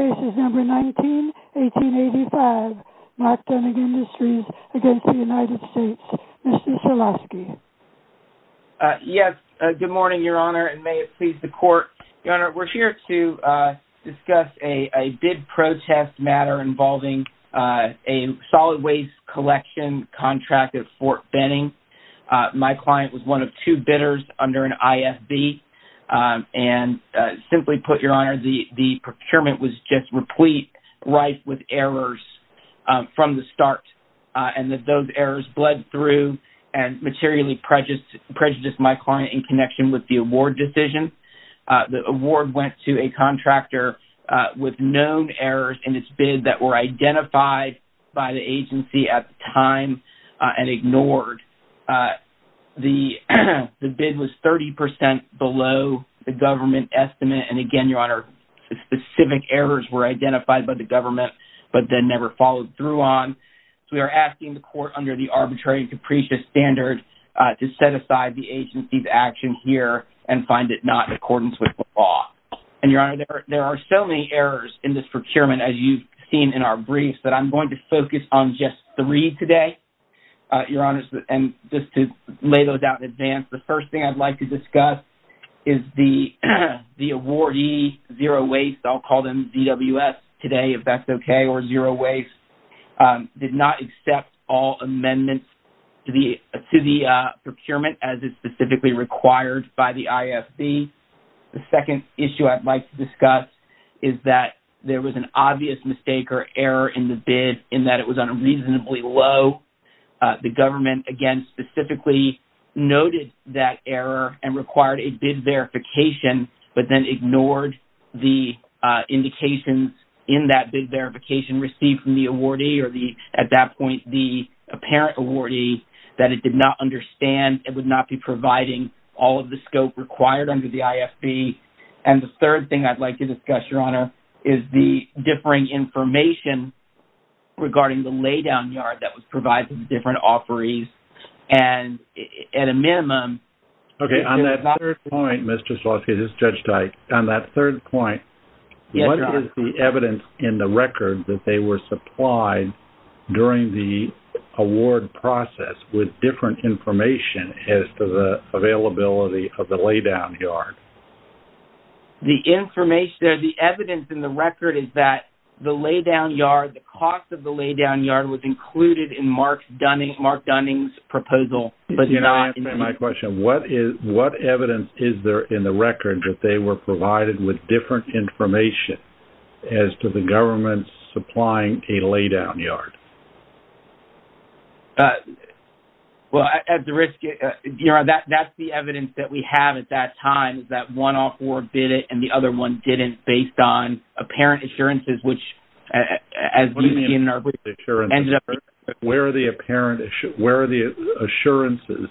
Cases No. 19-1885, Mark Dunning Industries v. United States. Mr. Cholosky. Yes, good morning, Your Honor, and may it please the Court. Your Honor, we're here to discuss a bid protest matter involving a solid waste collection contract at Fort Benning. My client was one of two bidders under an IFB, and simply put, Your Honor, the procurement was just replete, rife with errors from the start, and that those errors bled through and materially prejudiced my client in connection with the award decision. The award went to a contractor with known errors in its bid that were identified by the agency at the time and ignored. The bid was 30 percent below the government estimate, and again, Your Honor, specific errors were identified by the government but then never followed through on. So we are asking the Court under the arbitrary and capricious standard to set aside the agency's action here and find it not in accordance with the law. And Your Honor, there are so many errors in this procurement as you've seen in our briefs that I'm going to focus on just three today, Your Honor, and just to lay those out in advance. The first thing I'd like to discuss is the awardee, Zero Waste, I'll call them ZWS today if that's okay, or Zero Waste, did not accept all amendments to the procurement as is specifically required by the IFB. The second issue I'd like to discuss is that there was an obvious mistake or error in the bid in that it was on a reasonably low, the government, again, specifically noted that error and required a bid verification but then ignored the indications in that bid verification received from the awardee or, at that point, the apparent awardee that it did not understand, it would not be providing all of the scope required under the IFB. And the third thing I'd like to discuss, Your Honor, is the differing information regarding the laydown yard that was provided to the different offerees and, at a minimum... Okay, on that third point, Mr. Slawskis, this is Judge Dyke, on that third point, what is the evidence in the record that they were supplied during the award process with different information as to the availability of the laydown yard? The information or the evidence in the record is that the laydown yard, the cost of the laydown yard was included in Mark Dunning's proposal, but not in the... Can I ask my question? What evidence is there in the record that they were provided with different information as to the government supplying a laydown yard? Well, at the risk... Your Honor, that's the evidence that we have at that time, is that one offeror bid it and the other one didn't based on apparent assurances, which, as you can see in our... Where are the apparent... Where are the assurances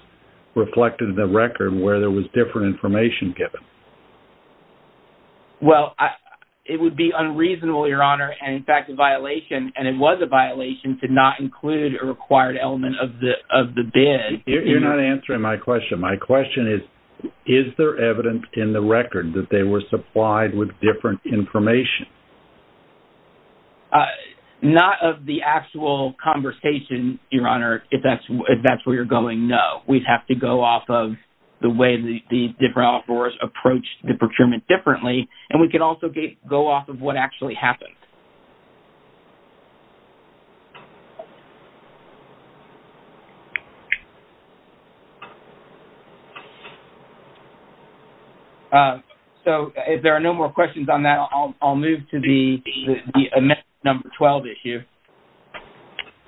reflected in the record where there was different information given? Well, it would be unreasonable, Your Honor, and, in fact, a violation, and it was a violation, to not include a required element of the bid... You're not answering my question. My question is, is there evidence in the record that they were supplied with different information? Not of the actual conversation, Your Honor, if that's where you're going, no. We'd have to go off of the way the different offerors approached the procurement differently, and we could also go off of what actually happened. So, if there are no more questions on that, I'll move to the amendment number 12 issue.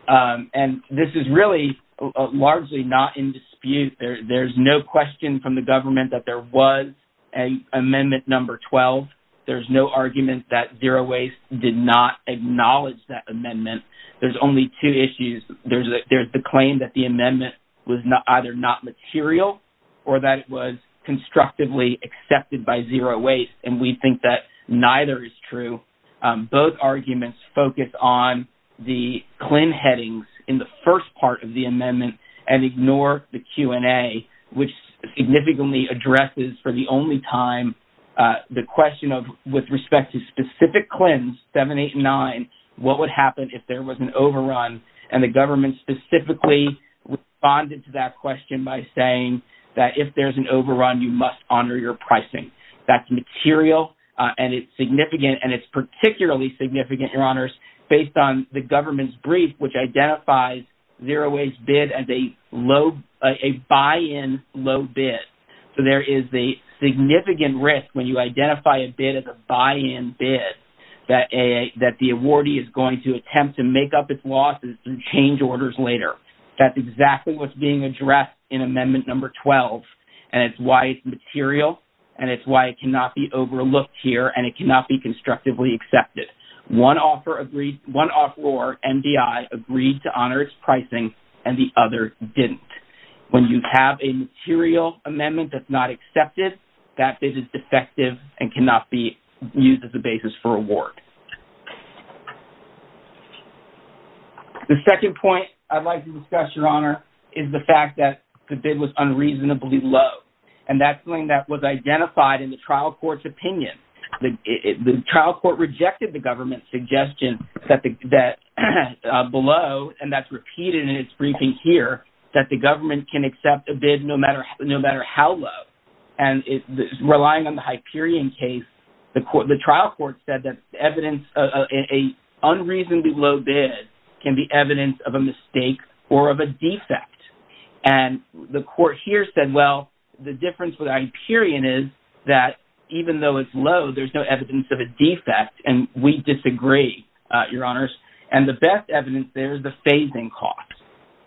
And this is really largely not in dispute. There's no question from the government that there was an amendment number 12. There's no argument that Zero Waste did not acknowledge that amendment. There's only two issues. There's the claim that the amendment was either not material or that it was constructively accepted by Zero Waste, and we think that neither is true. Both arguments focus on the CLIN headings in the first part of the amendment and ignore the Q&A, which significantly addresses, for the only time, the question of, with respect to specific CLINs 7, 8, and 9, what would happen if there was an overrun? And the government specifically responded to that question by saying that if there's an overrun, you must honor your pricing. That's material, and it's significant, and it's particularly significant, Your Honors, based on the government's brief, which identifies Zero Waste bid as a buy-in low bid. So, there is a significant risk when you identify a bid as a buy-in bid that the awardee is going to attempt to make up its losses and change orders later. That's exactly what's being addressed in amendment number 12, and it's why it's material, and it's why it One offeror, MDI, agreed to honor its pricing, and the other didn't. When you have a material amendment that's not accepted, that bid is defective and cannot be used as a basis for award. The second point I'd like to discuss, Your Honor, is the fact that the bid was unreasonably low, and that's something that was identified in the trial court's opinion. The trial court rejected the government's suggestion that below, and that's repeated in its briefing here, that the government can accept a bid no matter how low. Relying on the Hyperion case, the trial court said that evidence of an unreasonably low bid can be evidence of a mistake or of a defect, and the court here said, well, the difference with Hyperion is that even though it's low, there's no evidence of a defect, and we disagree, Your Honors, and the best evidence there is the phase-in cost.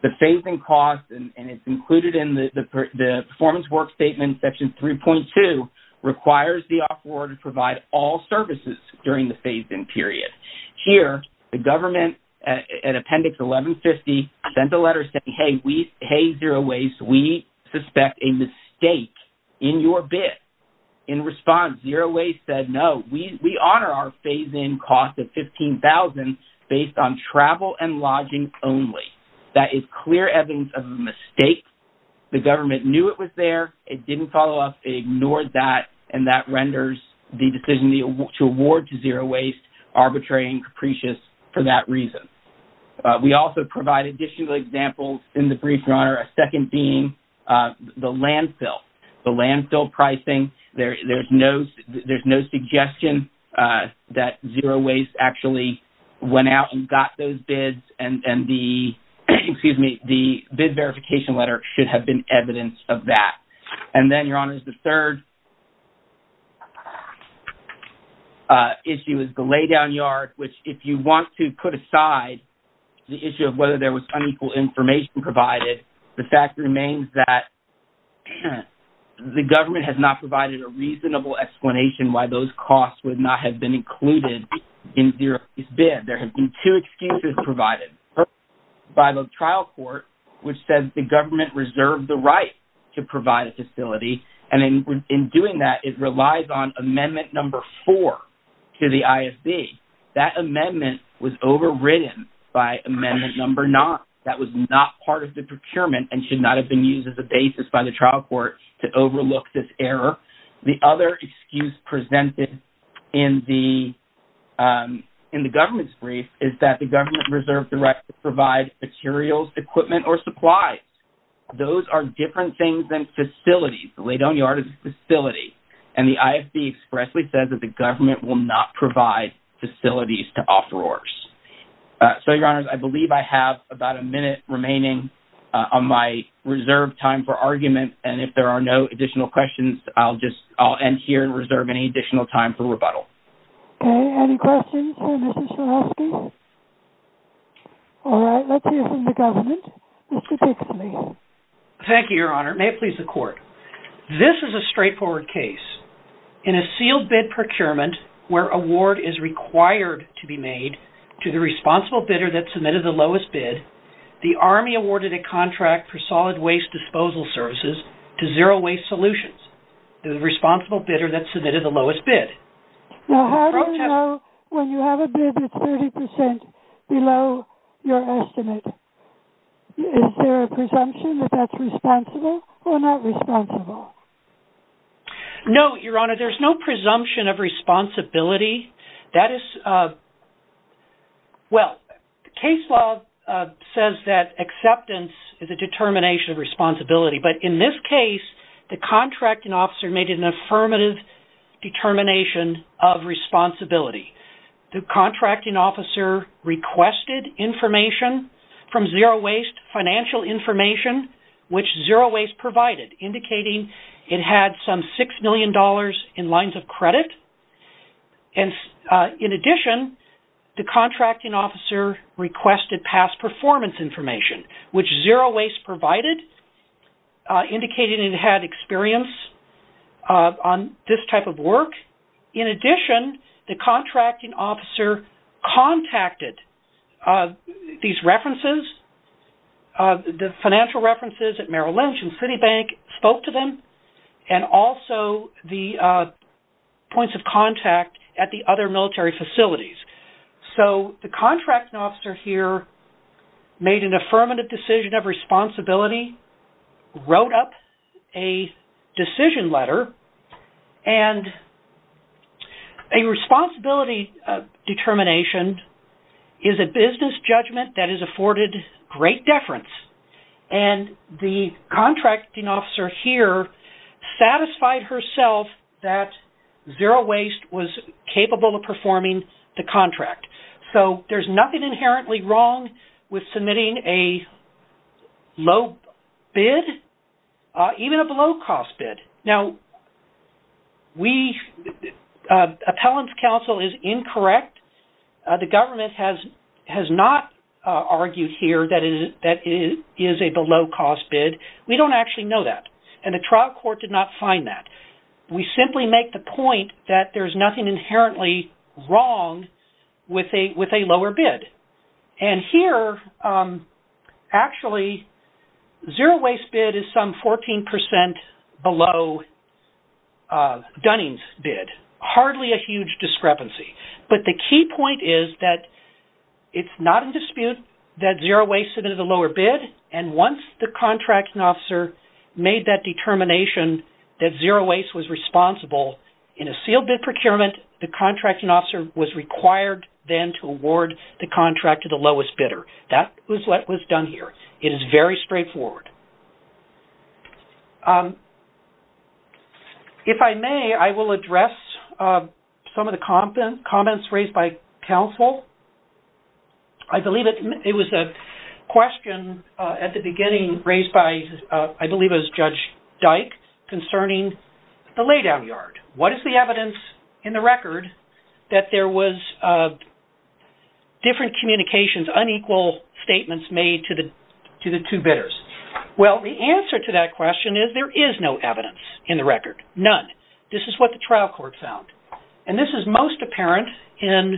The phase-in cost, and it's included in the performance work statement, section 3.2, requires the offeror to provide all services during the phase-in period. Here, the government, in appendix 1150, sent a letter saying, hey, Zero Waste, we suspect a no. We honor our phase-in cost of $15,000 based on travel and lodging only. That is clear evidence of a mistake. The government knew it was there. It didn't follow up. It ignored that, and that renders the decision to award to Zero Waste arbitrary and capricious for that reason. We also provide additional examples in the brief, Your Honor, a second being the landfill, the landfill pricing. There's no suggestion that Zero Waste actually went out and got those bids, and the bid verification letter should have been evidence of that. And then, Your Honors, the third issue is the laydown yard, which if you want to put aside the issue of whether there was unequal information provided, the fact remains that the government has not provided a reasonable explanation why those costs would not have been included in Zero Waste's bid. There have been two excuses provided by the trial court, which says the government reserved the right to provide a facility, and in doing that, it relies on amendment number four to the ISB. That amendment was overridden by amendment number nine. That was not part of the procurement and should not have been used as a basis by trial court to overlook this error. The other excuse presented in the government's brief is that the government reserved the right to provide materials, equipment, or supplies. Those are different things than facilities. The laydown yard is a facility, and the ISB expressly says that the government will not provide facilities to offerors. So, Your Honors, I believe I have about a minute remaining on my reserved time for argument, and if there are no additional questions, I'll end here and reserve any additional time for rebuttal. Okay. Any questions for Mr. Strahovski? All right. Let's hear from the government. Mr. Dixley. Thank you, Your Honor. May it please the Court. This is a straightforward case. In a sealed bid procurement where award is required to be made to the responsible bidder that submitted the lowest bid, the Army awarded a contract for solid waste disposal services to Zero Waste Solutions, the responsible bidder that submitted the lowest bid. Now, how do you know when you have a bid that's 30 percent below your estimate? Is there a presumption that that's responsible or not responsible? No, Your Honor. There's no presumption of responsibility. That is, well, case law says that acceptance is a determination of responsibility, but in this case, the contracting officer made an affirmative determination of responsibility. The contracting officer requested information from Zero Waste, financial information, which Zero Waste provided, indicating it had some $6 million in lines of credit. In addition, the contracting officer requested past performance information, which Zero Waste provided, indicating it had experience on this type of work. In addition, the contracting officer contacted these references, the financial references at Merrill Lynch and Citibank, spoke to them, and also the points of contact at the other military facilities. So, the contracting officer here made an affirmative decision of responsibility, wrote up a decision letter, and a responsibility determination is a business judgment that is afforded great deference, and the contracting officer here satisfied herself that Zero Waste was capable of performing the contract. So, there's nothing inherently wrong with submitting a low bid, even a below cost bid. Now, appellant's counsel is incorrect. The government has not argued here that it is a below cost bid. We don't actually know that, and the trial court did not find that. We simply make the point that there's nothing inherently wrong with a lower bid, and here, actually, Zero Waste bid is some 14% below Dunning's bid. Hardly a huge discrepancy, but the key point is that it's not in dispute that Zero Waste submitted a lower bid, and once the contracting officer made that determination that Zero Waste was responsible in a sealed bid procurement, the contracting officer was required then to award the contract to the lowest bidder. That was done here. It is very straightforward. If I may, I will address some of the comments raised by counsel. I believe it was a question at the beginning raised by, I believe it was Judge Dike, concerning the lay down yard. What is the evidence in the record that there was a different communications, unequal statements made to the two bidders? Well, the answer to that question is there is no evidence in the record. None. This is what the trial court found, and this is most apparent in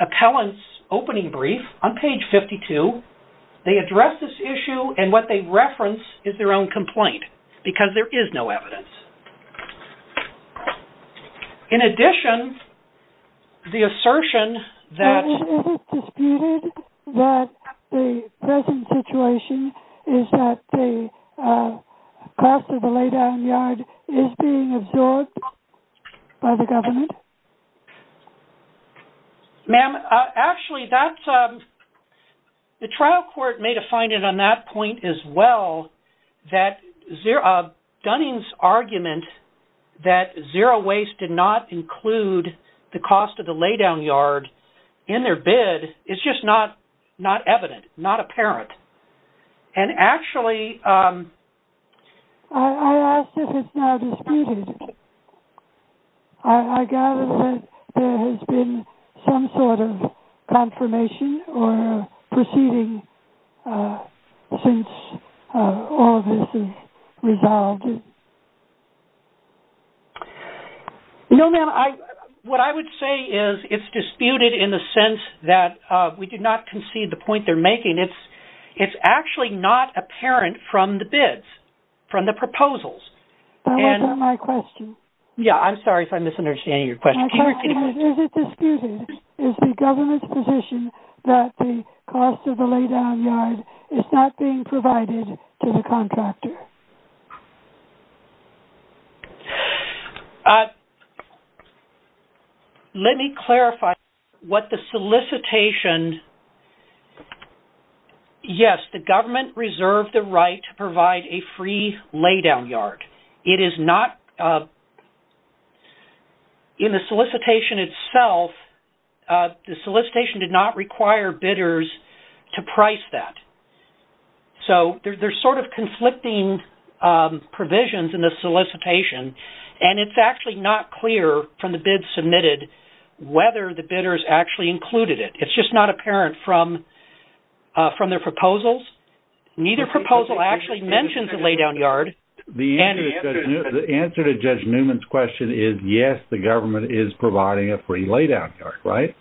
appellant's opening brief on page 52. They address this issue, and what they reference is their own complaint, because there is no evidence. In addition, the assertion that... Ma'am, is it disputed that the present situation is that the cost of the lay down yard is being absorbed by the government? Ma'am, actually, that's... The trial court made a finding on that point as well, that Dunning's argument that zero waste did not include the cost of the lay down yard in their bid is just not evident, not apparent. And actually... I ask if it's now disputed. I gather that there has been some sort of confirmation or proceeding since all of this is resolved. No, ma'am. What I would say is it's disputed in the sense that we did not concede the point they're making. It's actually not apparent from the bids, from the proposals. That wasn't my question. Yeah, I'm sorry if I'm misunderstanding your question. Is it disputed, is the government's position that the cost of the lay down yard is not being provided to the contractor? Let me clarify what the solicitation... Yes, the government reserved the right to provide a free lay down yard. It is not... In the solicitation itself, the solicitation did not require bidders to price that. So there's sort of conflicting provisions in the solicitation. And it's actually not clear from the bids submitted whether the bidders actually included it. It's just not apparent from their proposals. Neither proposal actually mentions a lay down yard. The answer to Judge Newman's question is yes, the government is providing a free lay down yard, right?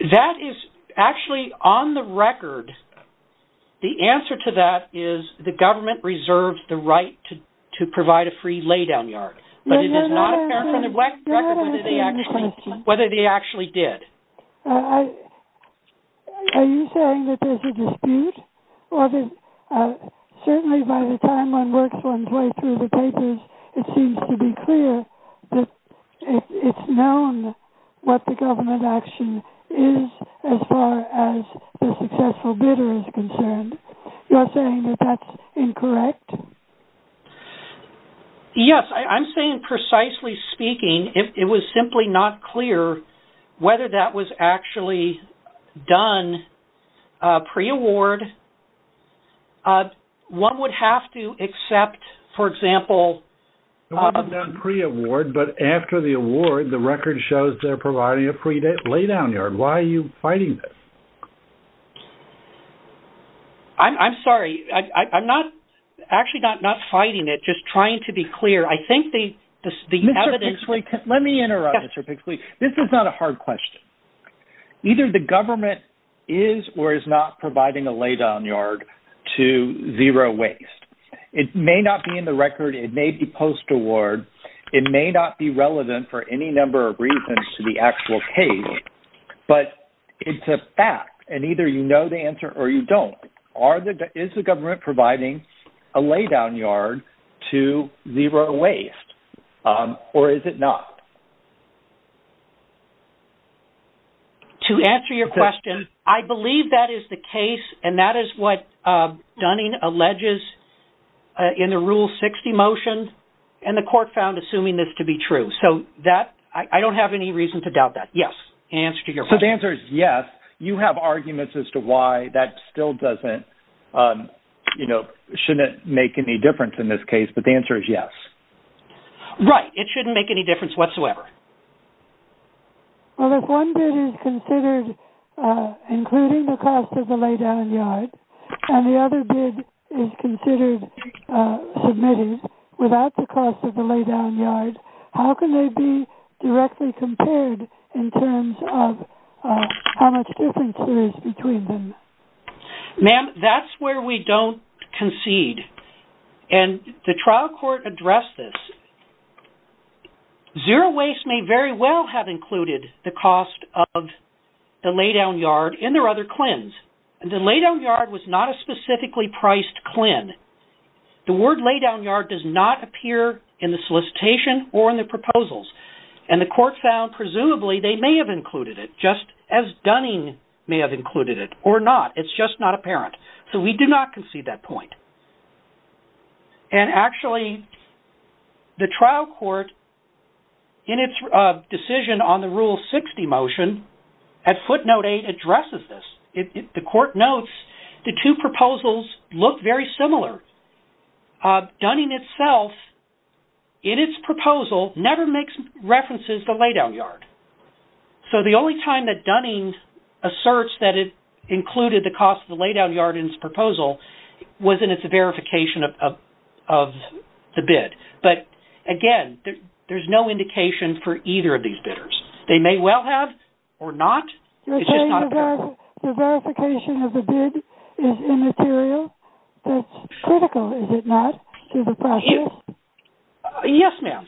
That is actually on the record. The answer to that is the government reserves the right to whether they actually did. Are you saying that there's a dispute? Certainly by the time one works one's way through the papers, it seems to be clear that it's known what the government action is as far as the successful bidder is concerned. You're saying that that's incorrect? Yes. I'm saying, precisely speaking, it was simply not clear whether that was actually done pre-award. One would have to accept, for example... It was done pre-award, but after the award, the record shows they're providing a free lay down yard. Why are you fighting this? I'm sorry. I'm actually not fighting it, just trying to be clear. I think the evidence... Mr. Pixley, let me interrupt, Mr. Pixley. This is not a hard question. Either the government is or is not providing a lay down yard to zero waste. It may not be in the record. It may be post-award. It may not be relevant for any number of reasons to the actual case, but it's a fact. Either you know the answer or you don't. Is the government providing a lay down yard to zero waste or is it not? To answer your question, I believe that is the case and that is what Dunning alleges in the Rule 60 motion and the court found assuming this to be true. I don't have any to doubt that. Yes. The answer is yes. You have arguments as to why that still doesn't, you know, shouldn't make any difference in this case, but the answer is yes. Right. It shouldn't make any difference whatsoever. If one bid is considered including the cost of the lay down yard and the other bid is considered submitted without the cost of the lay down yard, how can they be directly compared in terms of how much difference there is between them? Ma'am, that's where we don't concede and the trial court addressed this. Zero waste may very well have included the cost of the lay down yard in their other clins. The lay down yard was not a specifically priced clin. The word lay down yard does not appear in the solicitation or in the proposals and the court found presumably they may have included it just as Dunning may have included it or not. It's just not apparent. So we do not concede that point and actually the trial court in its decision on the Rule 60 motion at footnote eight addresses this. The court notes the two proposals look very similar. Dunning itself in its proposal never makes references to lay down yard. So the only time that Dunning asserts that it included the cost of the lay down yard in its proposal was in its verification of the bid. But again, there's no indication for either of these bidders. They may well have or not. The verification of the bid is immaterial. That's critical, is it not, to the process? Yes, ma'am.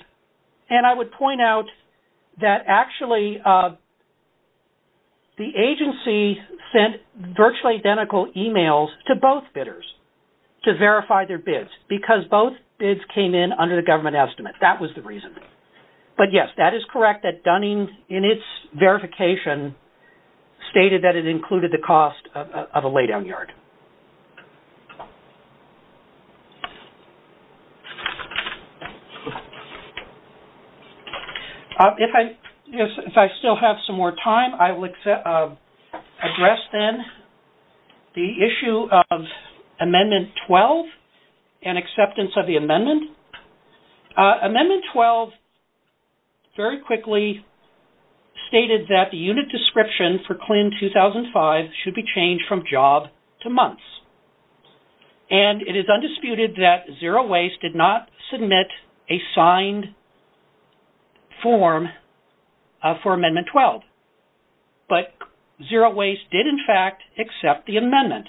And I would point out that actually the agency sent virtually identical emails to both bidders to verify their bids because both bids came in under the government estimate. That was the reason. But yes, that is correct that Dunning in its verification stated that it included the cost of a lay down yard. If I still have some more time, I will address then the issue of Amendment 12 and acceptance of the amendment. Amendment 12 very quickly stated that the unit description for CLIN 2005 should be changed from job to months. And it is undisputed that Zero Waste did not submit a signed form for Amendment 12. But Zero Waste did, in fact, accept the amendment.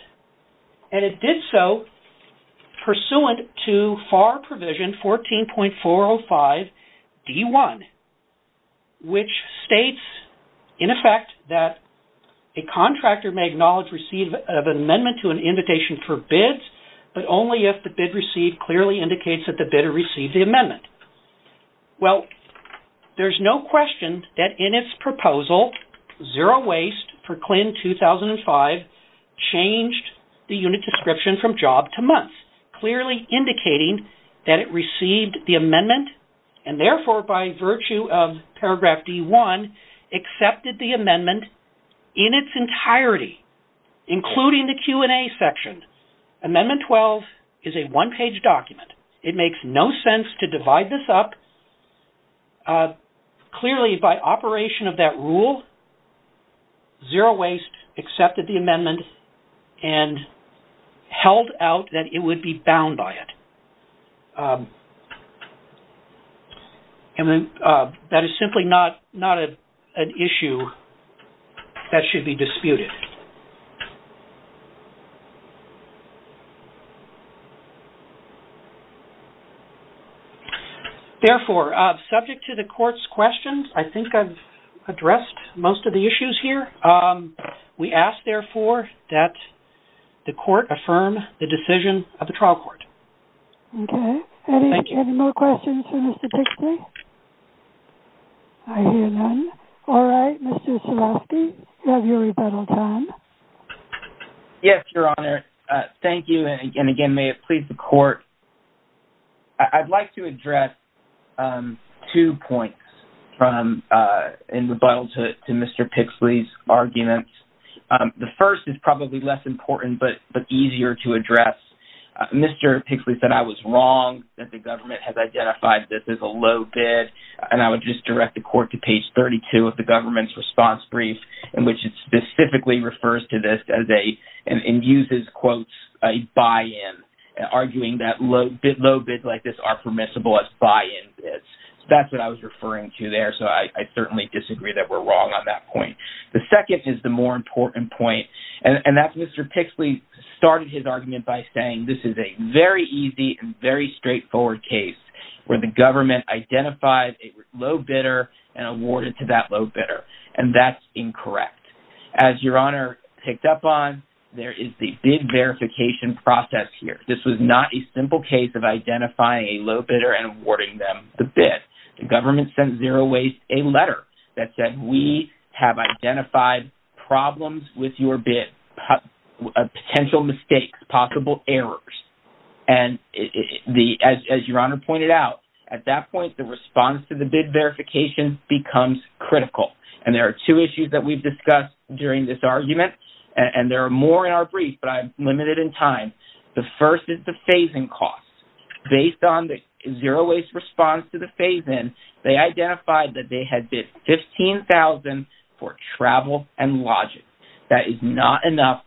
And it did so pursuant to FAR 14.405D1, which states, in effect, that a contractor may acknowledge receipt of an amendment to an invitation for bids, but only if the bid received clearly indicates that the bidder received the amendment. Well, there's no question that in its proposal, Zero Waste for CLIN 2005 changed the unit description from job to months, clearly indicating that it received the amendment, and therefore, by virtue of paragraph D1, accepted the amendment in its entirety, including the Q&A section. Amendment 12 is a one-page document. It makes no sense to Zero Waste accepted the amendment and held out that it would be bound by it. And that is simply not an issue that should be disputed. Therefore, subject to the court's questions, I think I've addressed most of the issues here. We ask, therefore, that the court affirm the decision of the trial court. Okay. Any more questions for Mr. Pixley? I hear none. All right, Mr. Silovsky, you have your rebuttal time. Yes, Your Honor. Thank you, and again, may it please the court. I'd like to address two points in rebuttal to Mr. Pixley's arguments. The first is probably less important but easier to address. Mr. Pixley said I was wrong that the government has identified this as a low bid, and I would just direct the court to page 32 of the government's response brief, in which it specifically refers to this as a, and uses quotes, a buy-in, arguing that low bids like this are permissible as buy-in bids. That's what I was the more important point, and that's Mr. Pixley started his argument by saying this is a very easy and very straightforward case where the government identified a low bidder and awarded to that low bidder, and that's incorrect. As Your Honor picked up on, there is the bid verification process here. This was not a simple case of identifying a low bidder and awarding them the bid. The government sent Zero Waste a letter that said we have identified problems with your bid, potential mistakes, possible errors, and as Your Honor pointed out, at that point, the response to the bid verification becomes critical, and there are two issues that we've discussed during this argument, and there are more in our brief, but I'm limited in time. The first is the phase-in cost. Based on the Zero Waste response to the phase-in, they identified that they had bid $15,000 for travel and lodging. That is not enough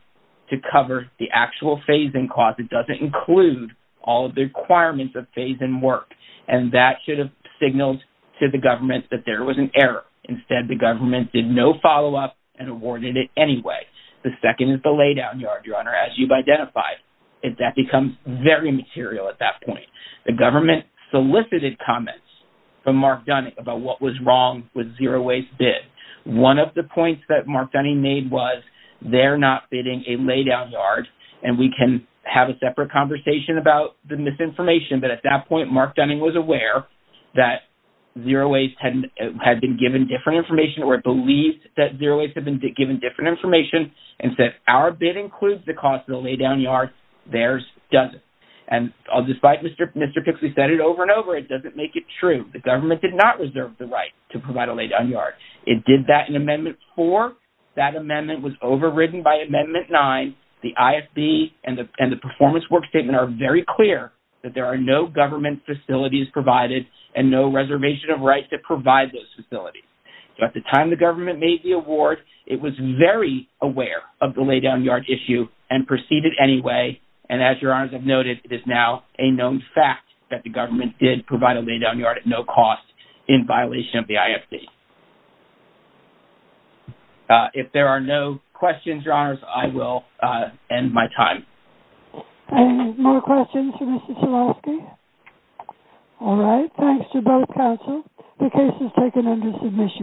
to cover the actual phase-in cost. It doesn't include all of the requirements of phase-in work, and that should have signaled to the government that there was an error. Instead, the government did no follow-up and awarded it anyway. The second is very material at that point. The government solicited comments from Mark Dunning about what was wrong with Zero Waste bid. One of the points that Mark Dunning made was they're not bidding a lay-down yard, and we can have a separate conversation about the misinformation, but at that point, Mark Dunning was aware that Zero Waste had been given different information or believed that Zero Waste had been given different information and said, our bid includes the cost of the lay-down yard. Theirs doesn't. And despite Mr. Pixley said it over and over, it doesn't make it true. The government did not reserve the right to provide a lay-down yard. It did that in Amendment 4. That amendment was overridden by Amendment 9. The ISB and the performance work statement are very clear that there are no government facilities provided and no reservation of rights to provide those facilities. So at the time the government made the award, it was very aware of the lay-down yard issue and proceeded anyway. And as your honors have noted, it is now a known fact that the government did provide a lay-down yard at no cost in violation of the ISB. If there are no questions, your honors, I will end my time. Any more questions for Mr. Swarovski? All right. Thanks to both counsel. The case is taken under submission.